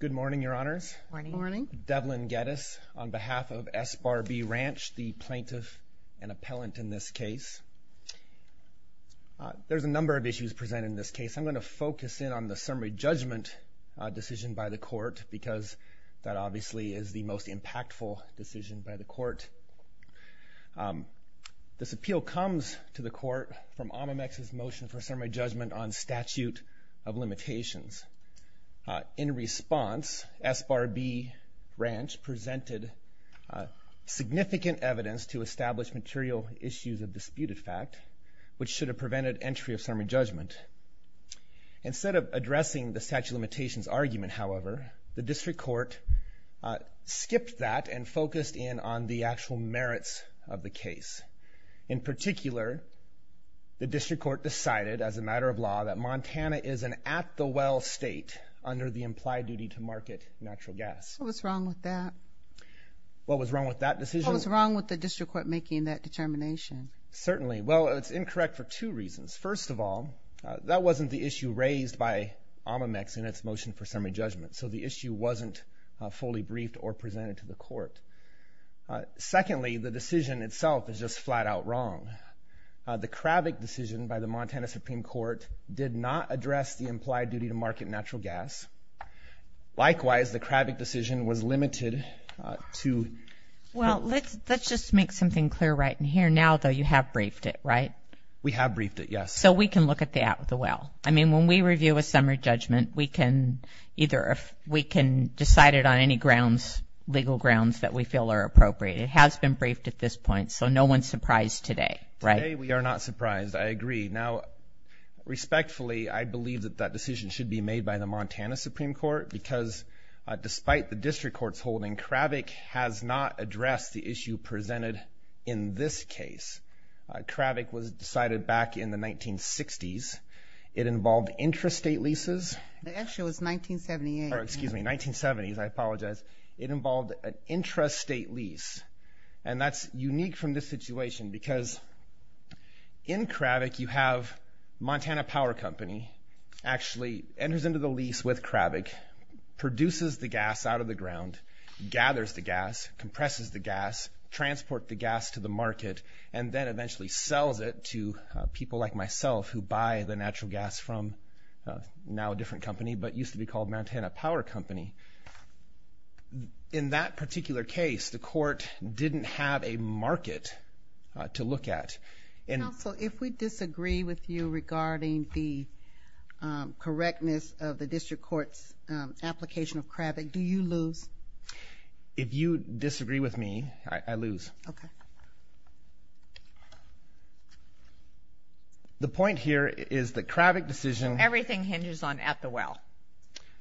Good morning, Your Honors. Good morning. Devlin Geddes on behalf of S Bar B Ranch, the plaintiff and appellant in this case. There's a number of issues presented in this case. I'm going to focus in on the summary judgment decision by the court because that obviously is the most impactful decision by the court. This appeal comes to the court from Omimex's motion for summary judgment on statute of limitations. In response, S Bar B Ranch presented significant evidence to establish material issues of disputed fact, which should have prevented entry of summary judgment. Instead of addressing the statute of limitations argument, however, the district court skipped that and focused in on the actual merits of the case. In particular, the district court decided as a matter of law that Montana is an at-the-well state under the implied duty to market natural gas. What was wrong with that? What was wrong with that decision? What was wrong with the district court making that determination? Certainly. Well, it's incorrect for two reasons. First of all, that wasn't the issue raised by Omimex in its motion for summary judgment, so the issue wasn't fully briefed or presented to the court. Secondly, the decision itself is just flat-out wrong. The Kravik decision by the Montana Supreme Court did not address the implied duty to market natural gas. Likewise, the Kravik decision was limited to— Well, let's just make something clear right in here. Now, though, you have briefed it, right? We have briefed it, yes. So we can look at the at-the-well. I mean, when we review a summary judgment, we can decide it on any grounds, legal grounds, that we feel are appropriate. It has been briefed at this point, so no one's surprised today, right? Today, we are not surprised. I agree. Now, respectfully, I believe that that decision should be made by the Montana Supreme Court because despite the district court's holding, Kravik has not addressed the issue presented in this case. Kravik was decided back in the 1960s. It involved intrastate leases. Actually, it was 1978. Oh, excuse me, 1970s. I apologize. It involved an intrastate lease, and that's unique from this situation because in Kravik, you have Montana Power Company actually enters into the lease with Kravik, produces the gas out of the ground, gathers the gas, compresses the gas, transport the gas to the market, and then eventually sells it to people like myself who buy the natural gas from now a different company but used to be called Montana Power Company. In that particular case, the court didn't have a market to look at. Counsel, if we disagree with you regarding the correctness of the district court's application of Kravik, do you lose? If you disagree with me, I lose. Okay. The point here is that Kravik decision... Everything hinges on at the well.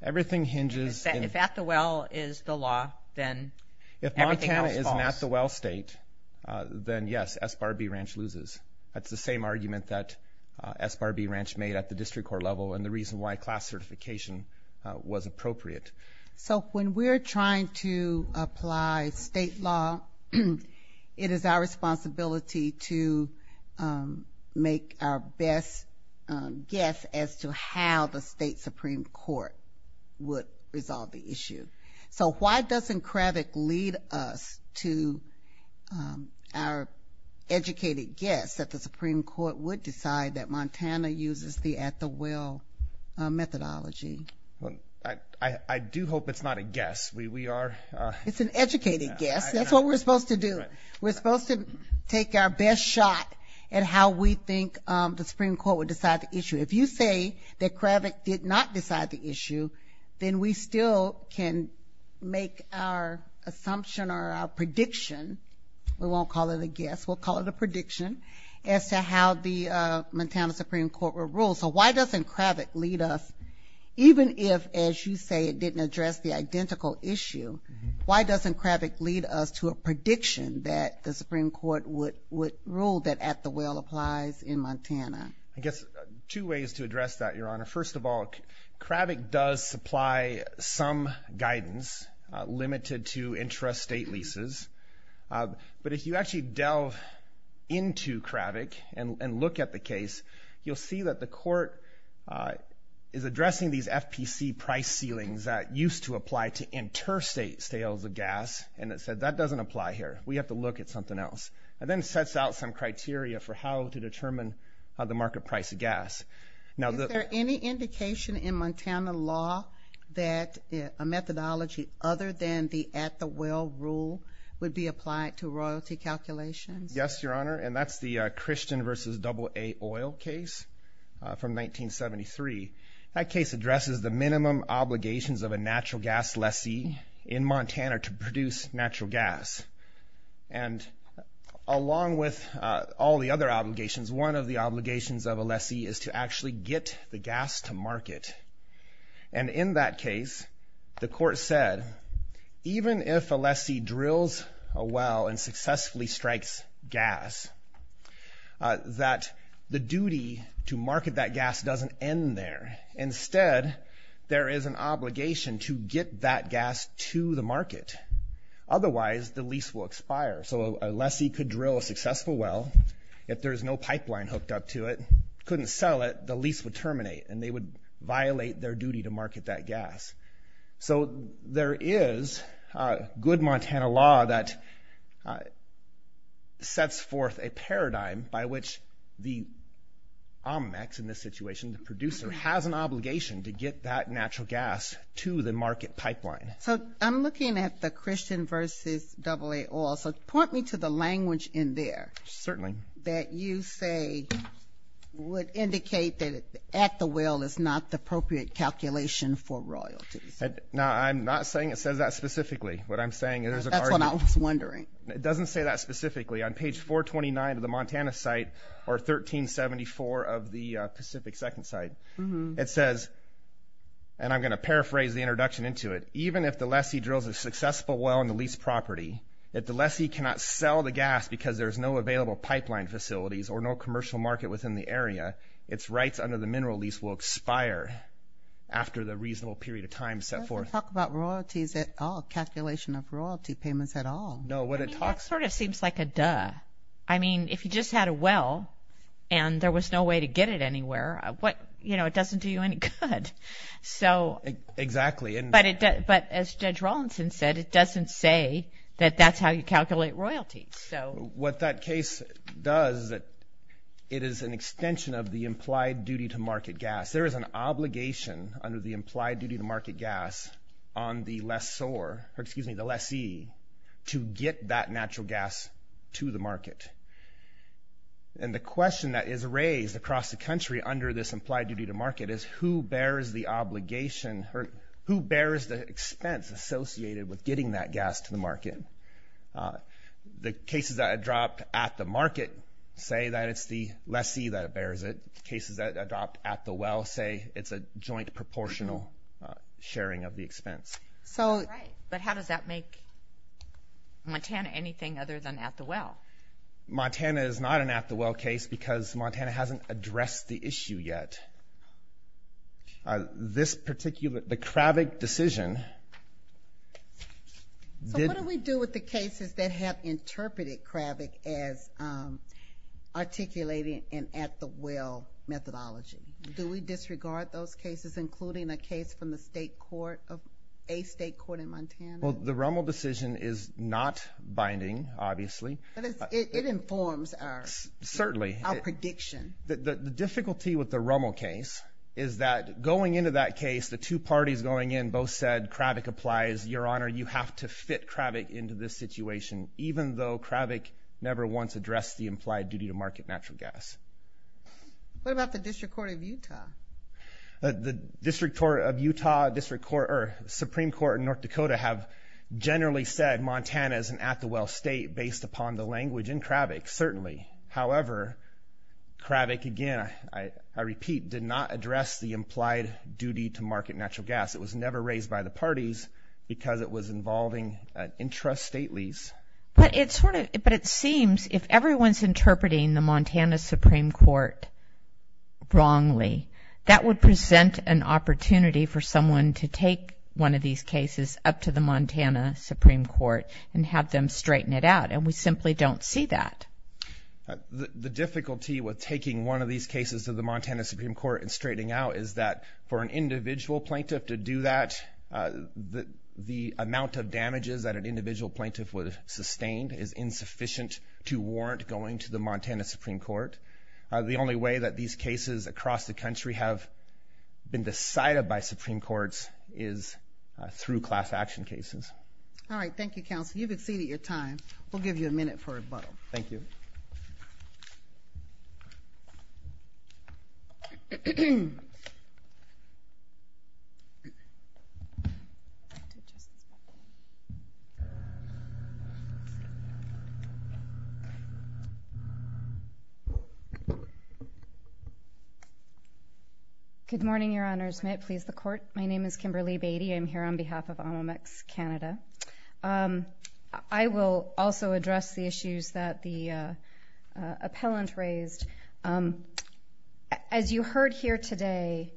Everything hinges... If at the well is the law, then everything else falls. If Montana is an at-the-well state, then yes, SBARB Ranch loses. That's the same argument that SBARB Ranch made at the district court level and the reason why class certification was appropriate. So when we're trying to apply state law, it is our responsibility to make our best guess as to how the state Supreme Court would resolve the issue. So why doesn't Kravik lead us to our educated guess that the Supreme Court would decide that Montana uses the at-the-well methodology? I do hope it's not a guess. We are... It's an educated guess. That's what we're supposed to do. We're supposed to take our best shot at how we think the Supreme Court would decide the issue. If you say that Kravik did not decide the issue, then we still can make our assumption or our prediction. We won't call it a guess. We'll call it a prediction as to how the Montana Supreme Court would rule. So why doesn't Kravik lead us, even if, as you say, it didn't address the identical issue, why doesn't Kravik lead us to a prediction that the Supreme Court would rule that at-the-well applies in Montana? I guess two ways to address that, Your Honor. First of all, Kravik does supply some guidance limited to intrastate leases, but if you actually delve into Kravik and look at the case, you'll see that the court is addressing these FPC price ceilings that used to apply to interstate sales of gas and it said that doesn't apply here. We have to look at something else. And then sets out some criteria for how to determine the market price of gas. Is there any indication in Montana law that a methodology other than the at-the-well rule Yes, Your Honor. And that's the Christian versus AA oil case from 1973. That case addresses the minimum obligations of a natural gas lessee in Montana to produce natural gas. And along with all the other obligations, one of the obligations of a lessee is to actually get the gas to market. And in that case, the court said even if a lessee drills a well and successfully strikes gas, that the duty to market that gas doesn't end there. Instead, there is an obligation to get that gas to the market. Otherwise, the lease will expire. So a lessee could drill a successful well. If there's no pipeline hooked up to it, couldn't sell it, the lease would terminate and they would violate their duty to market that gas. So there is good Montana law that sets forth a paradigm by which the omics in this situation, the producer has an obligation to get that natural gas to the market pipeline. So I'm looking at the Christian versus AA oil. Certainly. That you say would indicate that at the well is not the appropriate calculation for royalties. No, I'm not saying it says that specifically. That's what I was wondering. It doesn't say that specifically. On page 429 of the Montana site or 1374 of the Pacific second site, it says, and I'm going to paraphrase the introduction into it, even if the lessee drills a successful well on the lease property, if the lessee cannot sell the gas because there's no available pipeline facilities or no commercial market within the area, its rights under the mineral lease will expire after the reasonable period of time set forth. It doesn't talk about royalties at all, calculation of royalty payments at all. No, what it talks... I mean, that sort of seems like a duh. I mean, if you just had a well and there was no way to get it anywhere, what, you know, it doesn't do you any good. Exactly. But as Judge Rawlinson said, it doesn't say that that's how you calculate royalties. What that case does is that it is an extension of the implied duty to market gas. There is an obligation under the implied duty to market gas on the lessor, or excuse me, the lessee, to get that natural gas to the market. And the question that is raised across the country under this implied duty to market is who bears the obligation or who bears the expense associated with getting that gas to the market. The cases that are dropped at the market say that it's the lessee that bears it. Cases that are dropped at the well say it's a joint proportional sharing of the expense. Right, but how does that make Montana anything other than at the well? Montana is not an at-the-well case because Montana hasn't addressed the issue yet. This particular, the Kravik decision. So what do we do with the cases that have interpreted Kravik as articulating an at-the-well methodology? Do we disregard those cases, including a case from the state court, a state court in Montana? Well, the Rummel decision is not binding, obviously. But it informs our prediction. Certainly. The difficulty with the Rummel case is that going into that case, the two parties going in both said, Kravik applies, Your Honor, you have to fit Kravik into this situation, even though Kravik never once addressed the implied duty to market natural gas. What about the District Court of Utah? The District Court of Utah, Supreme Court in North Dakota have generally said Montana is an at-the-well state based upon the language in Kravik, certainly. However, Kravik, again, I repeat, did not address the implied duty to market natural gas. It was never raised by the parties because it was involving an intrastate lease. But it seems if everyone is interpreting the Montana Supreme Court wrongly, that would present an opportunity for someone to take one of these cases up to the Montana Supreme Court and have them straighten it out, and we simply don't see that. The difficulty with taking one of these cases to the Montana Supreme Court and straightening out is that for an individual plaintiff to do that, the amount of damages that an individual plaintiff would have sustained is insufficient to warrant going to the Montana Supreme Court. The only way that these cases across the country have been decided by Supreme Courts is through class action cases. All right. Thank you, Counsel. You've exceeded your time. We'll give you a minute for rebuttal. Thank you. Just a second. Good morning, Your Honors. May it please the Court? My name is Kimberly Beatty. I'm here on behalf of Almamex Canada. I will also address the issues that the appellant raised. As you heard here today,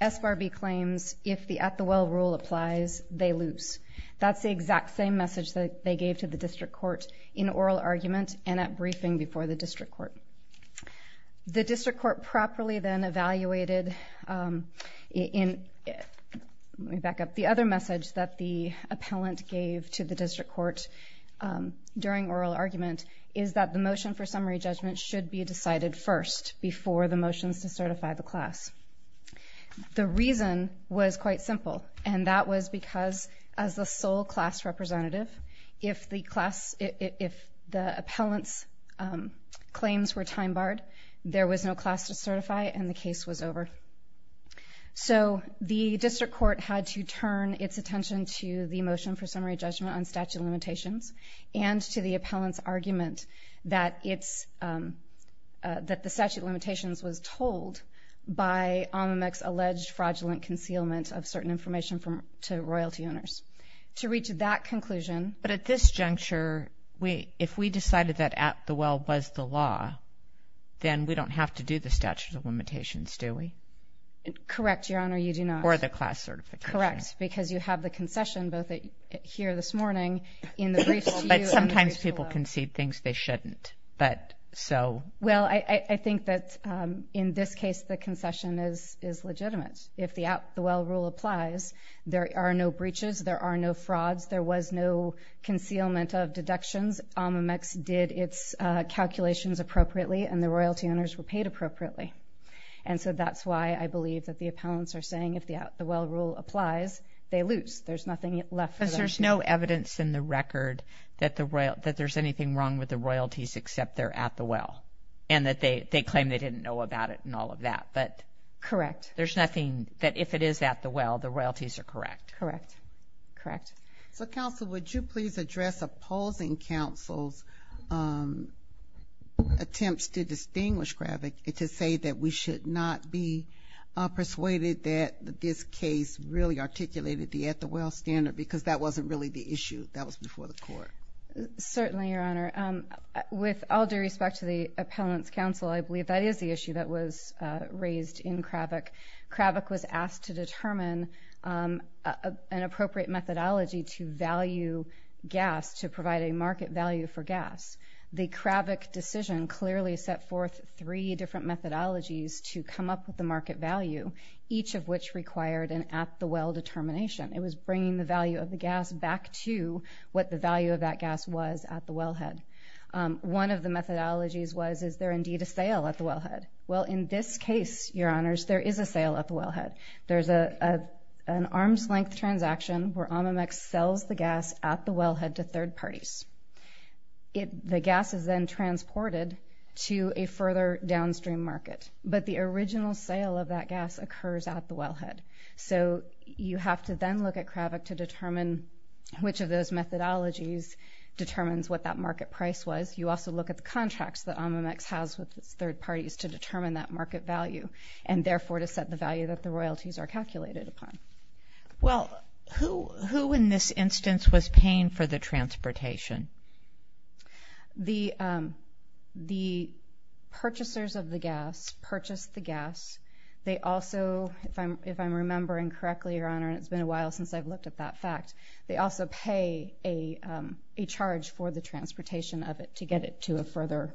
SBARB claims if the at-the-well rule applies, they lose. That's the exact same message that they gave to the district court in oral argument and at briefing before the district court. The district court properly then evaluated in... Let me back up. The other message that the appellant gave to the district court during oral argument is that the motion for summary judgment should be decided first before the motions to certify the class. The reason was quite simple, and that was because as the sole class representative, if the appellant's claims were time-barred, there was no class to certify and the case was over. So the district court had to turn its attention to the motion for summary judgment on statute of limitations and to the appellant's argument that the statute of limitations was told by Almamex's alleged fraudulent concealment of certain information to royalty owners. To reach that conclusion... But at this juncture, if we decided that at-the-well was the law, then we don't have to do the statute of limitations, do we? Correct, Your Honor, you do not. Or the class certification. Correct, because you have the concession both here this morning in the briefs to you... But sometimes people concede things they shouldn't. Well, I think that in this case the concession is legitimate. If the at-the-well rule applies, there are no breaches, there are no frauds, there was no concealment of deductions. Almamex did its calculations appropriately, and the royalty owners were paid appropriately. And so that's why I believe that the appellants are saying if the at-the-well rule applies, they lose, there's nothing left for them to do. Because there's no evidence in the record that there's anything wrong with the royalties except they're at-the-well, and that they claim they didn't know about it and all of that. Correct. There's nothing that if it is at-the-well, the royalties are correct. Correct. So, counsel, would you please address opposing counsel's attempts to distinguish Kravik and to say that we should not be persuaded that this case really articulated the at-the-well standard because that wasn't really the issue, that was before the court. Certainly, Your Honor. With all due respect to the appellants' counsel, I believe that is the issue that was raised in Kravik. Kravik was asked to determine an appropriate methodology to value gas, to provide a market value for gas. The Kravik decision clearly set forth three different methodologies to come up with the market value, each of which required an at-the-well determination. It was bringing the value of the gas back to what the value of that gas was at the wellhead. One of the methodologies was, is there indeed a sale at the wellhead? Well, in this case, Your Honors, there is a sale at the wellhead. There's an arm's-length transaction where Amamex sells the gas at the wellhead to third parties. The gas is then transported to a further downstream market, but the original sale of that gas occurs at the wellhead. So you have to then look at Kravik to determine which of those methodologies determines what that market price was. You also look at the contracts that Amamex has with its third parties to determine that market value and, therefore, to set the value that the royalties are calculated upon. Well, who in this instance was paying for the transportation? The purchasers of the gas purchased the gas. They also, if I'm remembering correctly, Your Honor, and it's been a while since I've looked at that fact, they also pay a charge for the transportation of it to get it to a further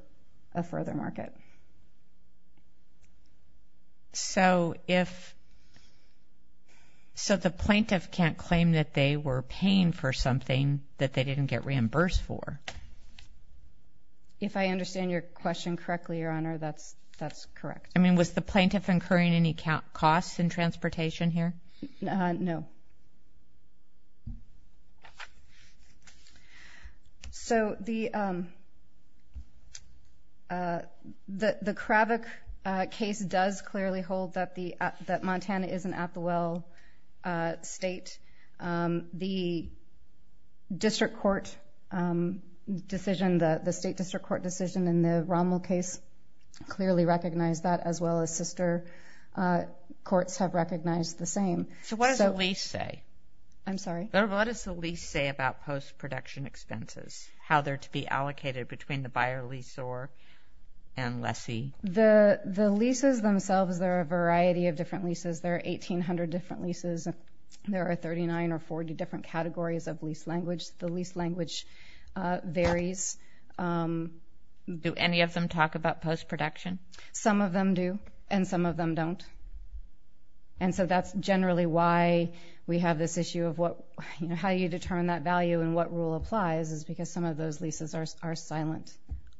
market. So the plaintiff can't claim that they were paying for something that they didn't get reimbursed for? If I understand your question correctly, Your Honor, that's correct. I mean, was the plaintiff incurring any costs in transportation here? No. So the Kravik case does clearly hold that Montana is an at-the-well state. The district court decision, the state district court decision in the Rommel case clearly recognized that, as well as sister courts have recognized the same. So what does the lease say? I'm sorry? What does the lease say about post-production expenses, how they're to be allocated between the buyer, leasor, and lessee? The leases themselves, there are a variety of different leases. There are 1,800 different leases. There are 39 or 40 different categories of lease language. The lease language varies. Do any of them talk about post-production? Some of them do, and some of them don't. And so that's generally why we have this issue of how you determine that value and what rule applies is because some of those leases are silent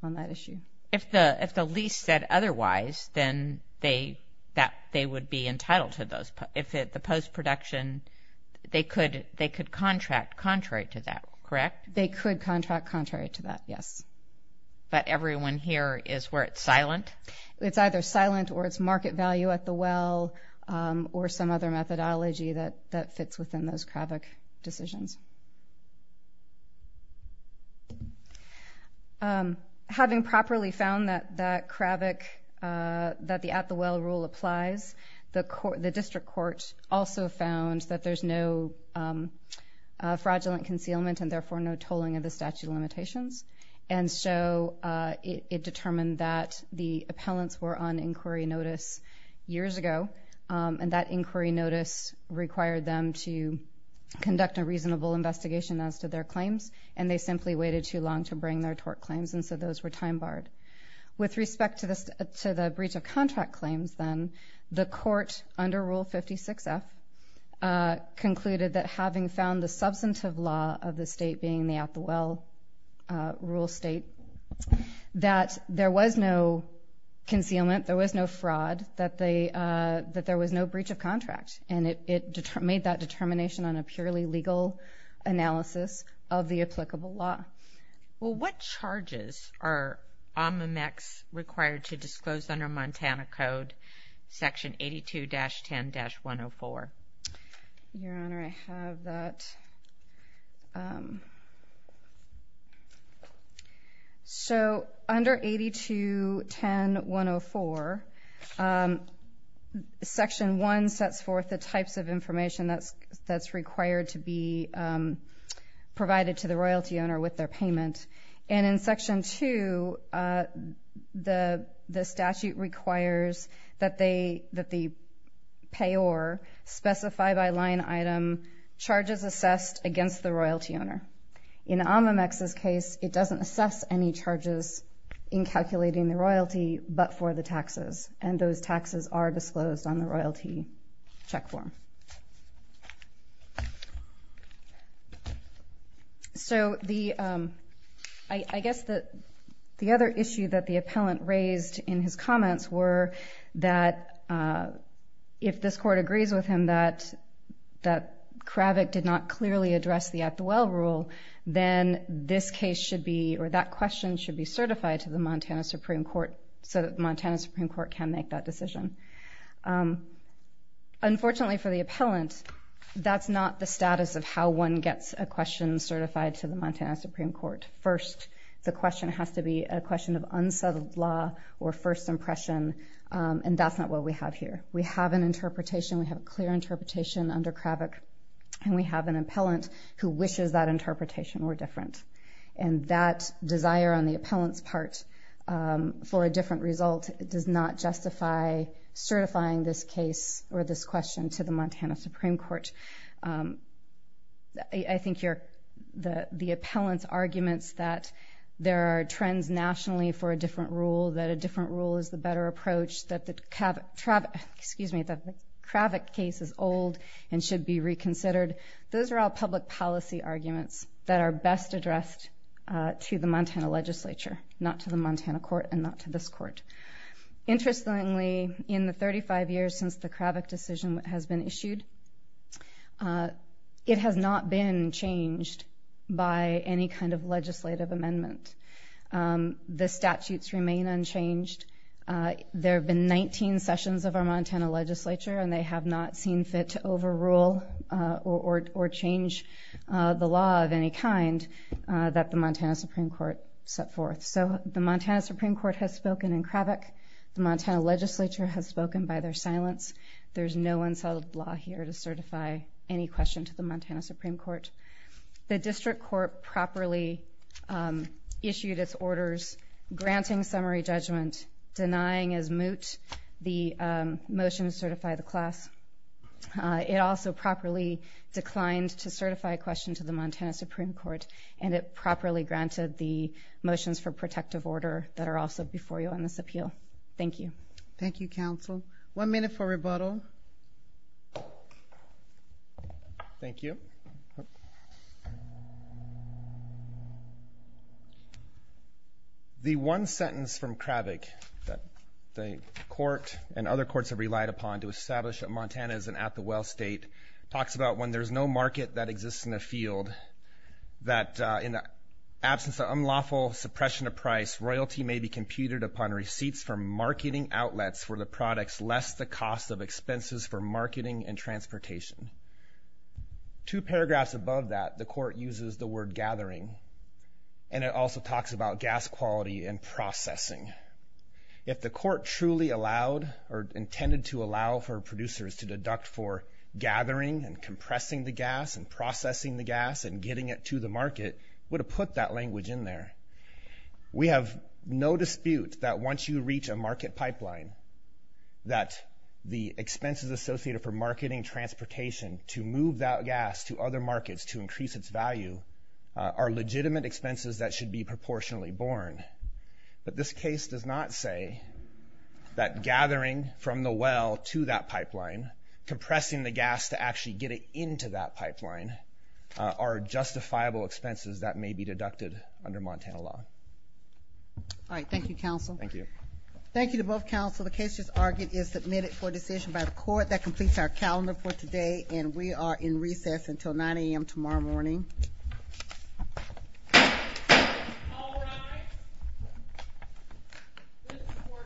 on that issue. If the lease said otherwise, then they would be entitled to those. If it's the post-production, they could contract contrary to that, correct? They could contract contrary to that, yes. But everyone here is where it's silent? It's either silent or it's market value at the well or some other methodology that fits within those CRAVIC decisions. Having properly found that CRAVIC, that the at-the-well rule applies, the district court also found that there's no fraudulent concealment and, therefore, no tolling of the statute of limitations. And so it determined that the appellants were on inquiry notice years ago, and that inquiry notice required them to conduct a reasonable investigation as to their claims, and they simply waited too long to bring their tort claims, and so those were time-barred. With respect to the breach of contract claims, then, the court, under Rule 56F, concluded that having found the substantive law of the state being the at-the-well rule state, that there was no concealment, there was no fraud, that there was no breach of contract, and it made that determination on a purely legal analysis of the applicable law. Well, what charges are OMMMEX required to disclose under Montana Code, Section 82-10-104? Your Honor, I have that. So under 82-10-104, Section 1 sets forth the types of information that's required to be provided to the royalty owner with their payment, and in Section 2, the statute requires that the payor specify by line item charges assessed against the royalty owner. In OMMMEX's case, it doesn't assess any charges in calculating the royalty, but for the taxes, and those taxes are disclosed on the royalty check form. So I guess the other issue that the appellant raised in his comments were that if this Court agrees with him that Kravick did not clearly address the at-the-well rule, then this case should be, or that question should be certified to the Montana Supreme Court so that the Montana Supreme Court can make that decision. Unfortunately for the appellant, that's not the status of how one gets a question certified to the Montana Supreme Court. First, the question has to be a question of unsettled law or first impression, and that's not what we have here. We have an interpretation, we have a clear interpretation under Kravick, and we have an appellant who wishes that interpretation were different. And that desire on the appellant's part for a different result does not justify certifying this case or this question to the Montana Supreme Court. I think the appellant's arguments that there are trends nationally for a different rule, that a different rule is the better approach, that the Kravick case is old and should be reconsidered, those are all public policy arguments that are best addressed to the Montana legislature, not to the Montana court and not to this court. Interestingly, in the 35 years since the Kravick decision has been issued, it has not been changed by any kind of legislative amendment. The statutes remain unchanged. There have been 19 sessions of our Montana legislature, and they have not seen fit to overrule or change the law of any kind that the Montana Supreme Court set forth. So the Montana Supreme Court has spoken in Kravick. The Montana legislature has spoken by their silence. There's no unsettled law here to certify any question to the Montana Supreme Court. The district court properly issued its orders granting summary judgment, denying as moot the motion to certify the class. It also properly declined to certify a question to the Montana Supreme Court, and it properly granted the motions for protective order that are also before you on this appeal. Thank you. Thank you, counsel. One minute for rebuttal. Thank you. The one sentence from Kravick that the court and other courts have relied upon to establish that Montana is an at-the-well state talks about when there's no market that exists in the field, that in the absence of unlawful suppression of price, royalty may be computed upon receipts from marketing outlets for the products less the cost of expenses for marketing and transportation. Two paragraphs above that, the court uses the word gathering, and it also talks about gas quality and processing. If the court truly allowed or intended to allow for producers to deduct for gathering and compressing the gas and processing the gas and getting it to the market, it would have put that language in there. We have no dispute that once you reach a market pipeline, that the expenses associated for marketing transportation to move that gas to other markets to increase its value are legitimate expenses that should be proportionally borne. But this case does not say that gathering from the well to that pipeline, compressing the gas to actually get it into that pipeline, are justifiable expenses that may be deducted under Montana law. All right. Thank you, counsel. Thank you. Thank you to both counsel. The case just argued is submitted for decision by the court. That completes our calendar for today, and we are in recess until 9 a.m. tomorrow morning. All rise. This court for this session is adjourned.